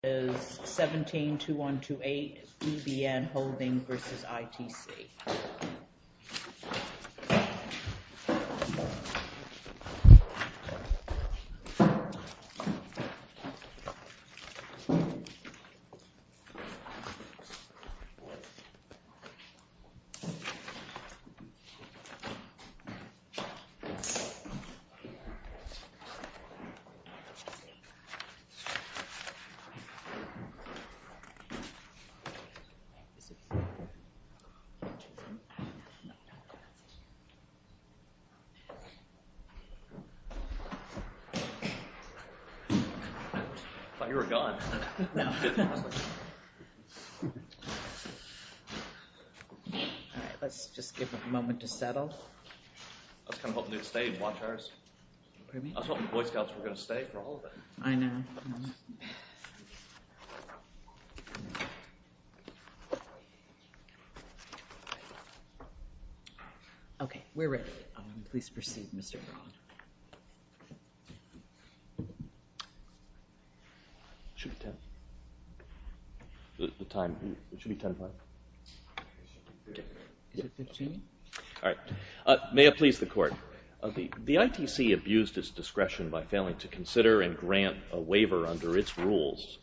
172128, BBN Holding v. ITC 172128, BBN Holding v. ITC May I please the Court? The ITC abused its discretion by failing to consider and grant a waiver under its rules,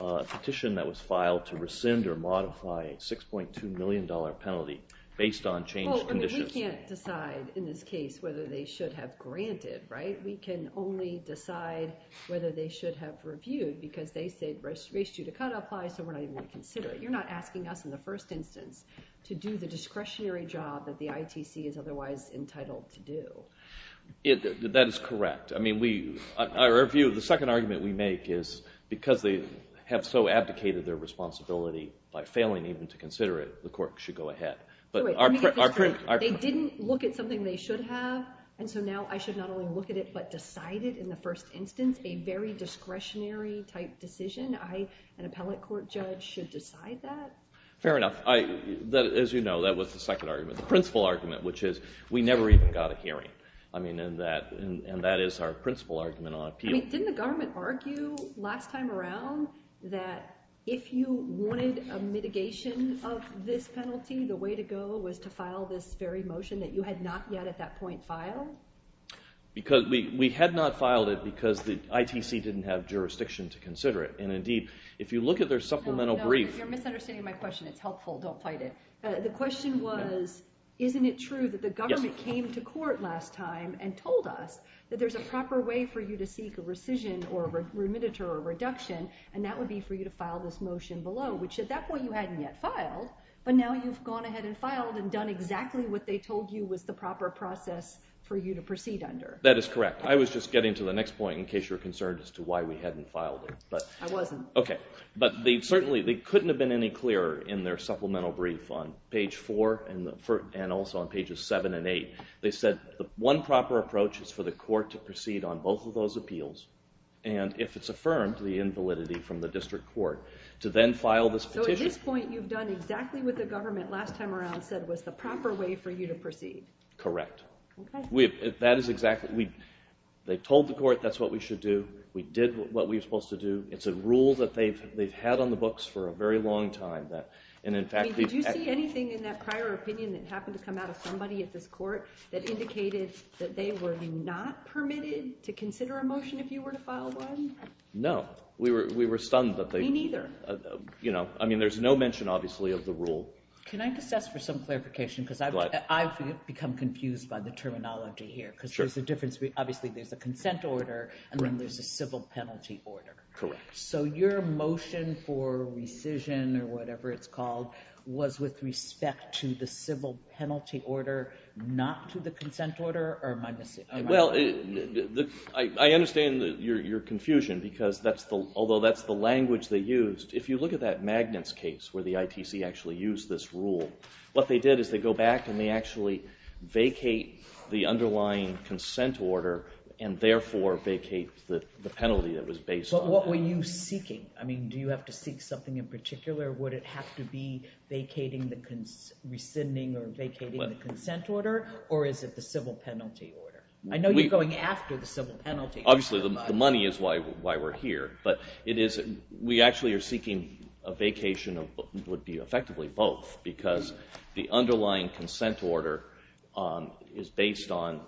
a petition that was filed to rescind or modify a $6.2 million penalty based on changed conditions. Well, I mean, we can't decide in this case whether they should have granted, right? We can only decide whether they should have reviewed because they said registration to cut applies, so we're not even going to consider it. You're not asking us in the first instance to do the discretionary job that the ITC is otherwise entitled to do. That is correct. I mean, the second argument we make is because they have so abdicated their responsibility by failing even to consider it, the Court should go ahead. They didn't look at something they should have, and so now I should not only look at it but decide it in the first instance, a very discretionary type decision? An appellate court judge should decide that? Fair enough. As you know, that was the second argument. The principal argument, which is we never even got a hearing. I mean, and that is our principal argument on appeal. I mean, didn't the government argue last time around that if you wanted a mitigation of this penalty, the way to go was to file this very motion that you had not yet at that point filed? Because we had not filed it because the ITC didn't have jurisdiction to consider it, and indeed, if you look at their supplemental brief... No, no, you're misunderstanding my question. It's helpful. Don't fight it. The question was, isn't it true that the government came to court last time and told us that there's a proper way for you to seek a rescission or a remediator or a reduction, and that would be for you to file this motion below, which at that point you hadn't yet filed, but now you've gone ahead and filed and done exactly what they told you was the proper process for you to proceed under. That is correct. I was just getting to the next point in case you were concerned as to why we hadn't filed it. I wasn't. Okay. But certainly, they couldn't have been any clearer in their supplemental brief on page four and also on pages seven and eight. They said the one proper approach is for the court to proceed on both of those appeals, and if it's affirmed, the invalidity from the district court, to then file this petition. So at this point, you've done exactly what the government last time around said was the proper way for you to proceed. Correct. Okay. That is exactly... They told the court that's what we should do. We did what we were supposed to do. It's a rule that they've had on the books for a very long time. Did you see anything in that prior opinion that happened to come out of somebody at this court that indicated that they were not permitted to consider a motion if you were to file one? No. We were stunned. Me neither. I mean, there's no mention, obviously, of the rule. Can I just ask for some clarification because I've become confused by the terminology here because there's a difference. Obviously, there's a decision or whatever it's called was with respect to the civil penalty order, not to the consent order, or am I... Well, I understand your confusion because although that's the language they used, if you look at that Magnits case where the ITC actually used this rule, what they did is they go back and they actually vacate the underlying consent order and therefore vacate the penalty that was based on that. But what were you seeking? I mean, do you have to seek something in particular? Would it have to be vacating the... rescinding or vacating the consent order, or is it the civil penalty order? I know you're going after the civil penalty order. Obviously, the money is why we're here, but we actually are seeking a vacation of what would be effectively both because the underlying consent order is based on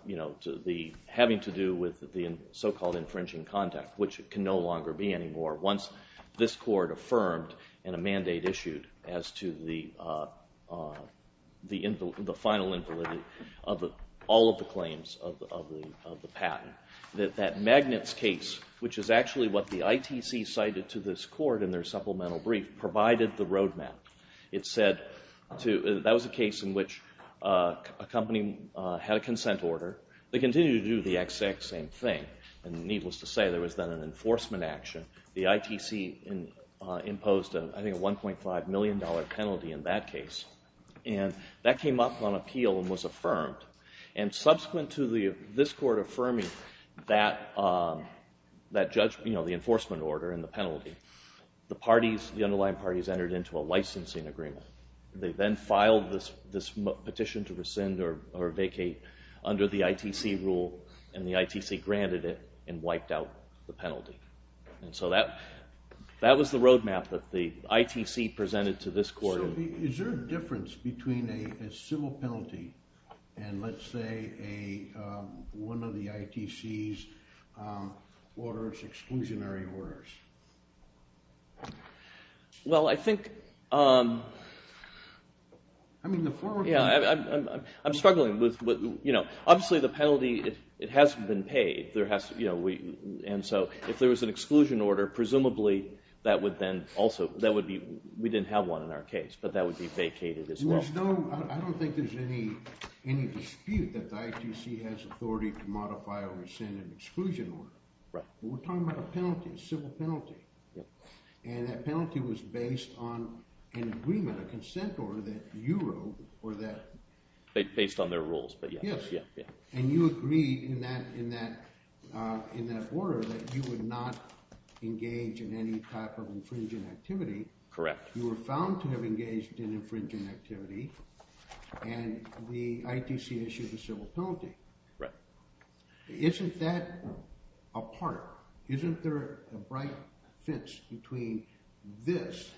having to do with the so-called infringing contact, which it can no longer be anymore once this court affirmed in a mandate issued as to the final invalidity of all of the claims of the patent. That Magnits case, which is actually what the ITC cited to this court in their supplemental brief, provided the roadmap. It said that was a case in which a company had a consent order. They continued to do the exact same thing, and needless to say, there was then an enforcement action. The ITC imposed, I think, a $1.5 million penalty in that case, and that came up on appeal and was affirmed. And subsequent to this court affirming that judgment, you know, the enforcement order and the penalty, the parties, the underlying parties, entered into a licensing agreement. They then filed this petition to rescind or wiped out the penalty. And so that was the roadmap that the ITC presented to this court. So is there a difference between a civil penalty and, let's say, one of the ITC's exclusionary orders? Well, I think, I'm struggling with, you know, obviously the penalty, it hasn't been paid. And so if there was an exclusion order, presumably that would then also, that would be, we didn't have one in our case, but that would be vacated as well. There's no, I don't think there's any dispute that the ITC has authority to modify or rescind an exclusion order. Right. But we're talking about a penalty, a civil penalty. And that penalty was based on an agreement, a consent order that you wrote, or that... Based on their rules, but yes. And you agreed in that order that you would not engage in any type of infringing activity. Correct. You were found to have engaged in infringing activity, and the ITC issued a civil penalty. Right. Isn't that a part, isn't there a bright fence between this,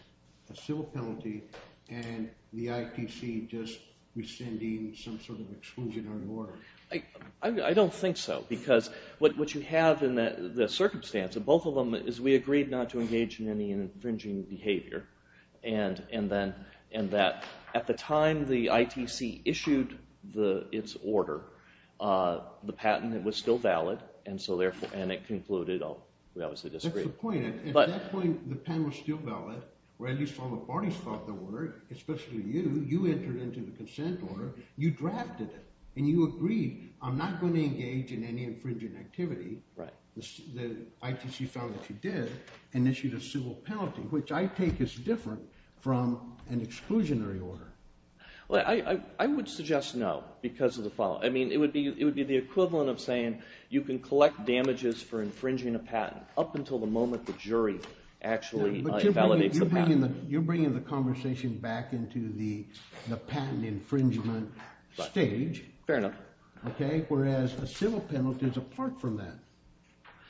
a civil penalty, and the ITC just rescinding some sort of exclusionary order? I don't think so, because what you have in the circumstance of both of them is we agreed not to engage in any infringing behavior. And that at the time the ITC issued its order, the patent was still valid, and so therefore, and it concluded, oh, we obviously disagree. That's the point. At that point, the patent was still valid, or at least all the parties thought they were, especially you. You entered into the consent order, you drafted it, and you agreed, I'm not going to engage in any infringing activity. Right. The ITC found that you did, and issued a civil penalty, which I take is different from an exclusionary order. Well, I would suggest no, because of the following. I mean, it would be the equivalent of saying you can collect damages for infringing a patent up until the moment the jury actually validates the patent. You're bringing the conversation back into the patent infringement stage. Fair enough. Okay, whereas a civil penalty is apart from that.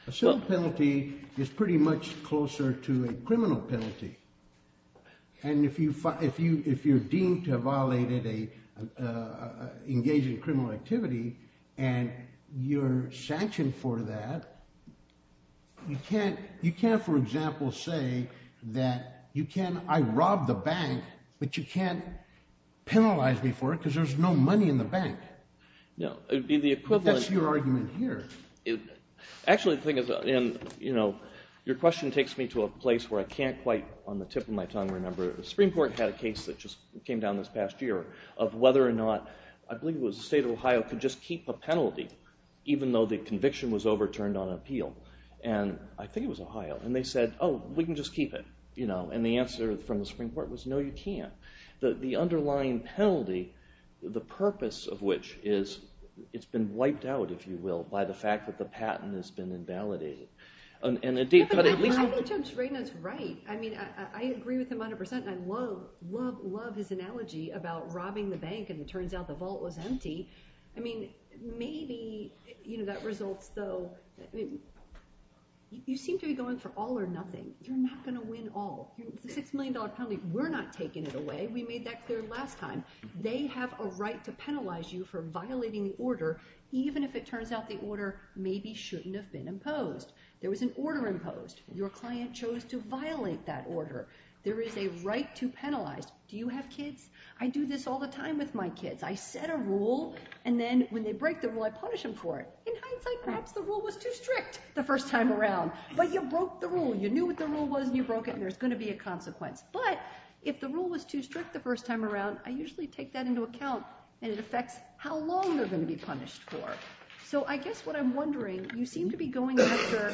A civil penalty is pretty much closer to a criminal penalty. And if you're deemed to have violated engaging in criminal activity, and you're sanctioned for that, you can't, for example, say that I robbed the bank, but you can't penalize me for it because there's no money in the bank. No, it would be the equivalent. That's your argument here. Actually, the thing is, your question takes me to a place where I can't quite, on the tip of my tongue, remember. The Supreme Court had a case that just came down this past year of whether or not, I believe it was the state of Ohio, could just keep a penalty, even though the conviction was overturned on appeal. And I think it was Ohio. And they said, oh, we can just keep it. And the answer from the Supreme Court was no, you can't. The underlying penalty, the purpose of which is, it's been wiped out, if you will, by the fact that the patent has been invalidated. I think Judge Reynaud's right. I mean, I agree with him 100%. I love, love, love his analogy about robbing the bank, and it turns out the vault was empty. I mean, maybe, you know, that results, though, you seem to be going for all or nothing. You're not going to win all. The $6 million penalty, we're not taking it away. We made that clear last time. They have a right to penalize you for violating the order, even if it turns out the order maybe shouldn't have been imposed. There was an order imposed. Your client chose to violate that order. There is a right to penalize. Do you have kids? I do this all the time with my kids. I set a rule, and then when they break the rule, I punish them for it. In hindsight, perhaps the rule was too strict the first time around. But you broke the rule. You knew what the rule was, and you broke it, and there's going to be a consequence. But if the rule was too strict the first time around, I usually take that into account, and it affects how long they're going to be punished for. So I guess what I'm wondering, you seem to be going after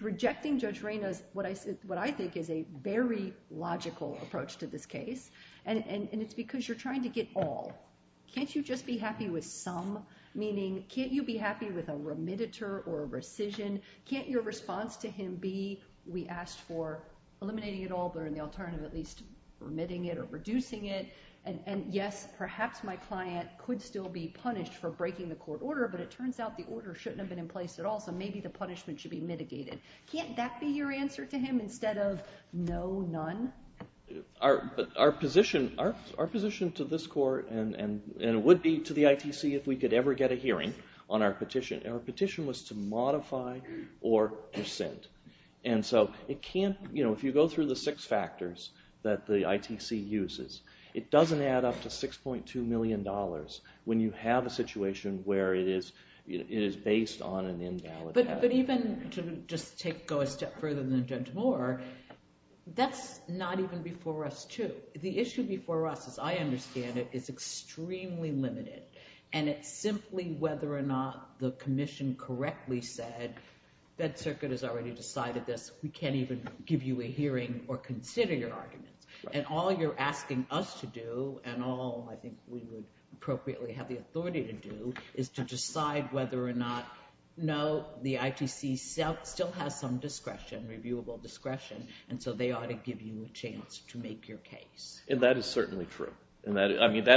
rejecting Judge Reynaud's, what I think is a very logical approach to this case, and it's because you're trying to get all. Can't you just be happy with some? Meaning, can't you be happy with a remediator or a rescission? Can't your response to him be, we asked for eliminating it all, but in the alternative at least remitting it or reducing it? And yes, perhaps my client could still be punished for breaking the court order, but it turns out the order shouldn't have been in place at all, so maybe the punishment should be mitigated. Can't that be your answer to him instead of no, none? Our position to this court, and it would be to the ITC, if we could ever get a hearing on our petition, our petition was to modify or dissent. And so if you go through the six factors that the ITC uses, it doesn't add up to $6.2 million when you have a situation where it is based on an invalid. But even to just go a step further than Judge Moore, that's not even before us too. The issue before us, as I understand it, is extremely limited. And it's simply whether or not the commission correctly said, that circuit has already decided this, we can't even give you a hearing or consider your arguments. And all you're asking us to do, and all I think we would appropriately have the authority to do, is to decide whether or not, no, the ITC still has some discretion, reviewable discretion, and so they ought to give you a chance to make your case. And that is certainly true. That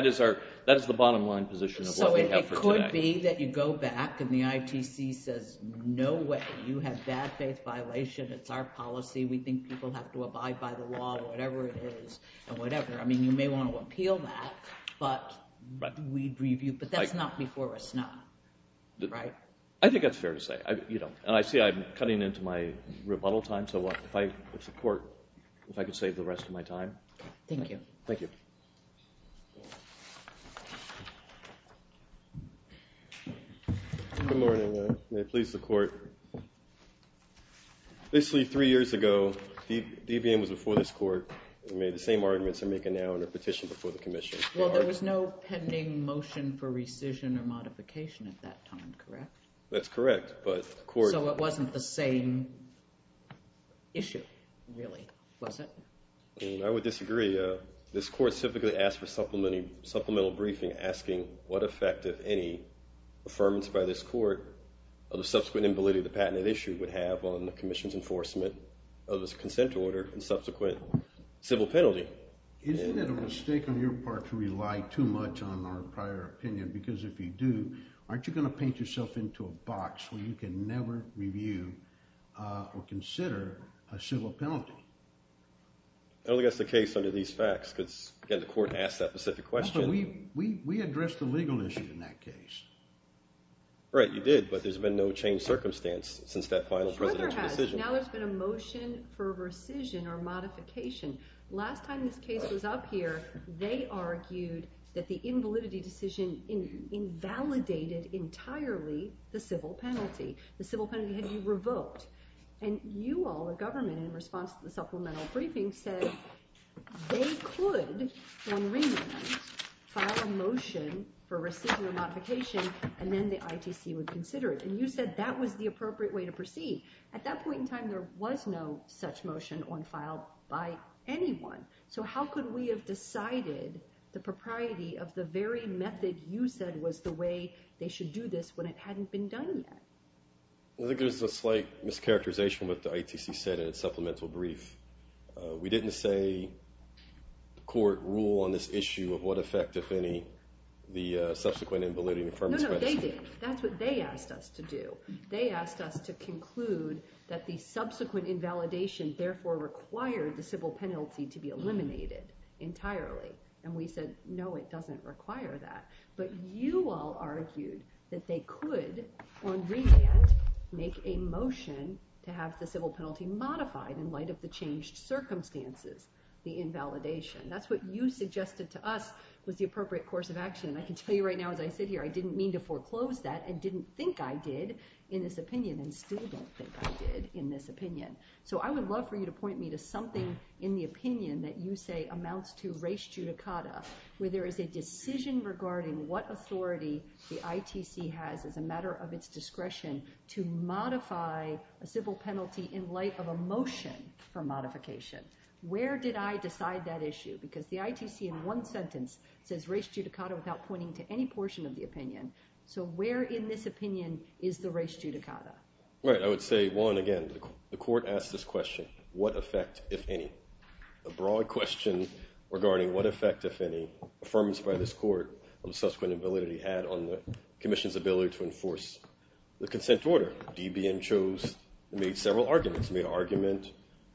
is the bottom line position of what we have for today. So it could be that you go back and the ITC says, no way, you have bad faith violation, it's our policy, we think people have to abide by the law, whatever it is, and whatever, I mean you may want to appeal that, but we'd review, but that's not before us now. I think that's fair to say. And I see I'm cutting into my rebuttal time, so if the court, if I could save the rest of my time. Thank you. Thank you. Good morning, may it please the court. Basically three years ago, DVM was before this court, and made the same arguments I'm making now on a petition before the commission. Well, there was no pending motion for rescission or modification at that time, correct? That's correct, but the court... So it wasn't the same issue, really, was it? I would disagree. This court simply asked for supplemental briefing asking what effect, if any, affirmance by this court of the subsequent invalidity of the patented issue would have on the commission's enforcement of this consent order and subsequent civil penalty. Isn't it a mistake on your part to rely too much on our prior opinion? Because if you do, aren't you going to paint yourself into a box where you can never review or consider a civil penalty? I don't think that's the case under these facts, because, again, the court asked that specific question. We addressed the legal issue in that case. Right, you did, but there's been no changed circumstance since that final presidential decision. Now there's been a motion for rescission or modification. Last time this case was up here, they argued that the invalidity decision invalidated entirely the civil penalty. The civil penalty had been revoked. And you all, the government, in response to the supplemental briefing, said they could, on remand, file a motion for rescission or modification and then the ITC would consider it. And you said that was the appropriate way to proceed. At that point in time, there was no such motion on file by anyone. So how could we have decided the propriety of the very method you said was the way they should do this when it hadn't been done yet? I think there's a slight mischaracterization of what the ITC said in its supplemental brief. We didn't say, the court rule on this issue of what effect, if any, the subsequent invalidity and affirmative spreadsheet... No, no, they did. That's what they asked us to do. They asked us to conclude that the subsequent invalidation therefore required the civil penalty to be eliminated entirely. And we said, no, it doesn't require that. But you all argued that they could, on remand, make a motion to have the civil penalty modified in light of the changed circumstances, the invalidation. That's what you suggested to us was the appropriate course of action. And I can tell you right now, as I sit here, I didn't mean to foreclose that and didn't think I did in this opinion and still don't think I did in this opinion. So I would love for you to point me to something in the opinion that you say amounts to res judicata, where there is a decision regarding what authority the ITC has as a matter of its discretion to modify a civil penalty in light of a motion for modification. Where did I decide that issue? Because the ITC, in one sentence, says res judicata without pointing to any portion of the opinion. So where in this opinion is the res judicata? Right, I would say, one, again, the court asked this question, what effect, if any? A broad question regarding what effect, if any, affirmance by this court of subsequent validity had on the commission's ability to enforce the consent order. DBM chose, made several arguments. Made an argument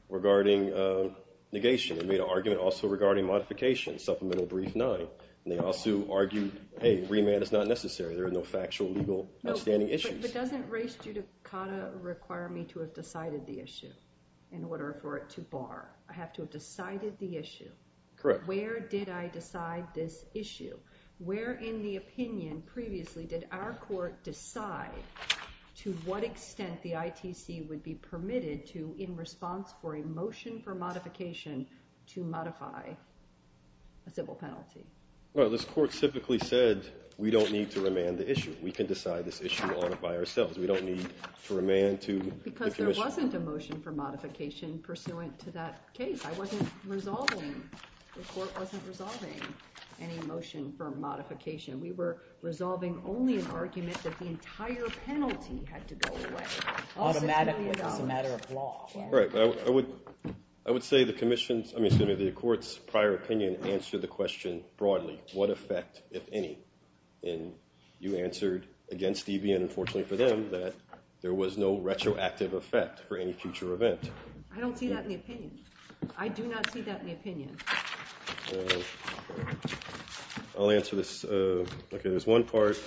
regarding negation. Made an argument also regarding modification, supplemental brief nine. And they also argued, hey, remand is not necessary. There are no factual, legal, outstanding issues. But doesn't res judicata require me to have decided the issue in order for it to bar? I have to have decided the issue. Where did I decide this issue? Where in the opinion previously did our court decide to what extent the ITC would be permitted to in response for a motion for modification to modify a civil penalty? Well, this court typically said we don't need to remand the issue. We can decide this issue on it by ourselves. We don't need to remand to the commission. Because there wasn't a motion for modification pursuant to that case. I wasn't resolving, the court wasn't resolving any motion for modification. We were resolving only an argument that the entire penalty had to go away. Automatic was a matter of law. Right, I would say the commission's, I mean the court's prior opinion answered the question broadly. What effect, if any? And you answered, against Stevie and unfortunately for them, that there was no retroactive effect for any future event. I don't see that in the opinion. I do not see that in the opinion. I'll answer this. Okay, there's one part.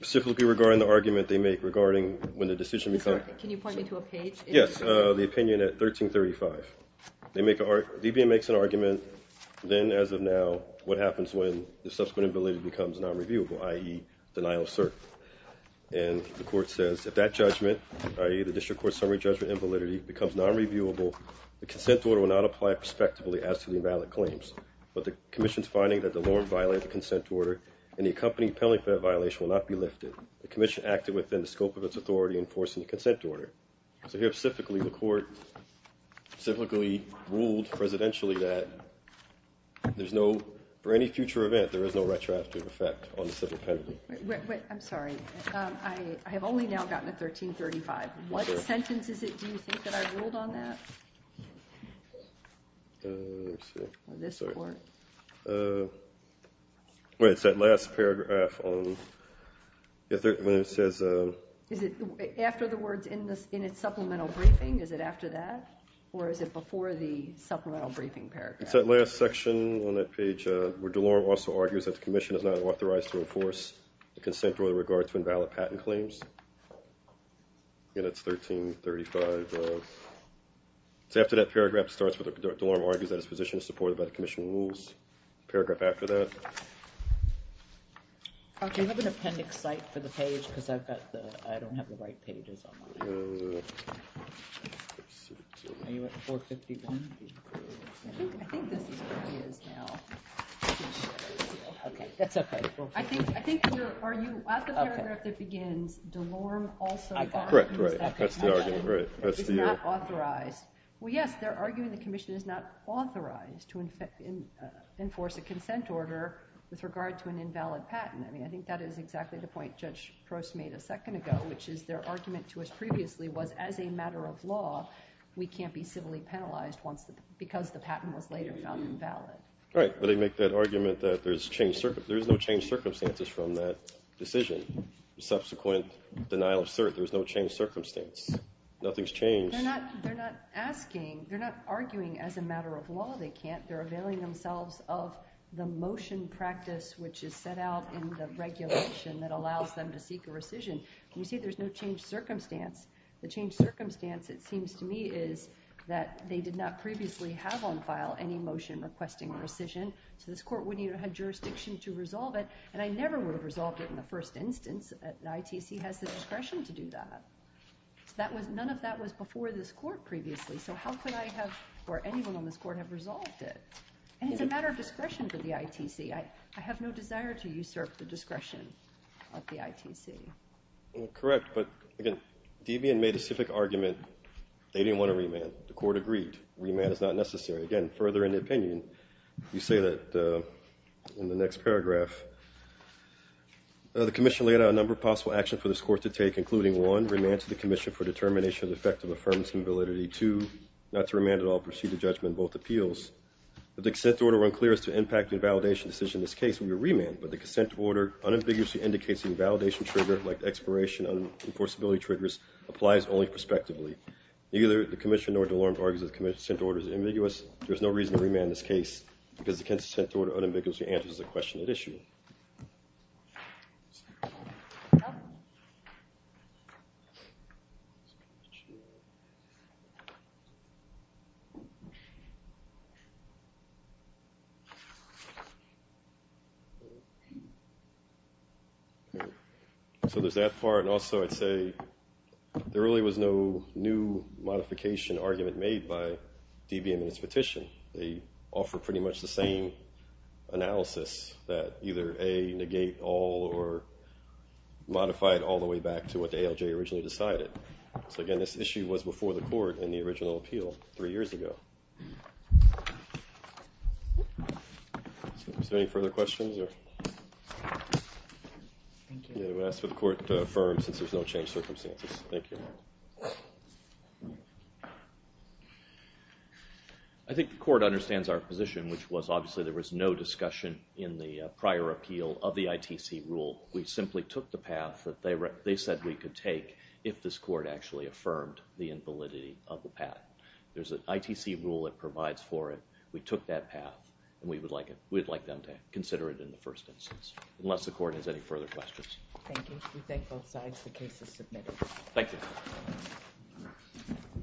Specifically regarding the argument they make regarding when the decision becomes Can you point me to a page? Yes, the opinion at 1335. They make an argument, then as of now, what happens when the subsequent ability becomes non-reviewable, i.e. denial of cert. And the court says, if that judgment, i.e. the district court's summary judgment invalidity becomes non-reviewable, the consent order will not apply prospectively as to the invalid claims. But the commission's finding that the law violated the consent order, and the accompanying penalty for that violation will not be lifted. The commission acted within the scope of its authority in enforcing the consent order. So here, specifically, the court ruled, presidentially, that there's no, for any future event, there is no retroactive effect on the civil penalty. Wait, I'm sorry. I have only now gotten to 1335. What sentence is it, do you think, that I ruled on that? This court. It's that last paragraph on when it says After the words in its supplemental briefing, is it after that? Or is it before the supplemental briefing paragraph? It's that last section on that page where DeLorme also argues that the commission is not authorized to enforce the consent order with regard to invalid patent claims. And it's 1335. It's after that paragraph starts where DeLorme argues that it's in a position to support the commission's rules. Paragraph after that. Do you have an appendix site for the page? Because I've got the, I don't have the right pages on mine. Are you at 451? I think this is where he is now. Okay, that's okay. I think you're arguing at the paragraph that begins DeLorme also argues that the commission is not authorized Well, yes, they're arguing the commission is not authorized to enforce a consent order with regard to an invalid patent. I think that is exactly the point Judge Prost made a second ago, which is their argument to us previously was, as a matter of law, we can't be civilly penalized because the patent was later found invalid. Right, but they make that argument that there's no changed circumstances from that decision. Subsequent denial of cert, there's no changed circumstance. Nothing's changed. They're not asking, they're not arguing as a matter of law they can't, they're availing themselves of the motion practice which is set out in the regulation that allows them to seek a rescission. You see there's no changed circumstance. The changed circumstance it seems to me is that they did not previously have on file any motion requesting rescission so this court wouldn't even have jurisdiction to resolve it and I never would have resolved it in the first instance. The ITC has the discretion to do that. None of that was before this court previously so how could I have, or anyone And it's a matter of discretion for the ITC. I have no desire to usurp the discretion of the ITC. Correct, but Debian made a specific argument they didn't want a remand. The court agreed remand is not necessary. Again, further in the opinion, you say that in the next paragraph the commission laid out a number of possible actions for this court to take including one, remand to the commission for determination of the effect of affirmative validity. Two, not to remand at all, proceed to judgment both appeals. If the consent order were unclear as to the impact of the validation decision in this case, it would be a remand, but the consent order unambiguously indicates the invalidation trigger like the expiration of enforceability triggers applies only prospectively. Neither the commission nor DeLorme argues that the consent order is ambiguous. There is no reason to remand this case because the consent order unambiguously answers the question at issue. So there's that part and also I'd say there really was no new modification argument made by Debian in its petition. They offer pretty much the same analysis that either A, negate all or modify it all the way back to what the ALJ originally decided. in the original appeal, three years ago. So the question is does the ALJ have the ability Is there any further questions? I'm going to ask for the court to affirm since there's no changed circumstances. Thank you. I think the court understands our position which was obviously there was no discussion in the prior appeal of the ITC rule. We simply took the path that they said we could take if this court actually affirmed the invalidity of the path. There's an ITC rule that provides for it. We took that path and we would like them to consider it in the first instance. Unless the court has any further questions. Thank you. We thank both sides. The case is submitted. Thank you.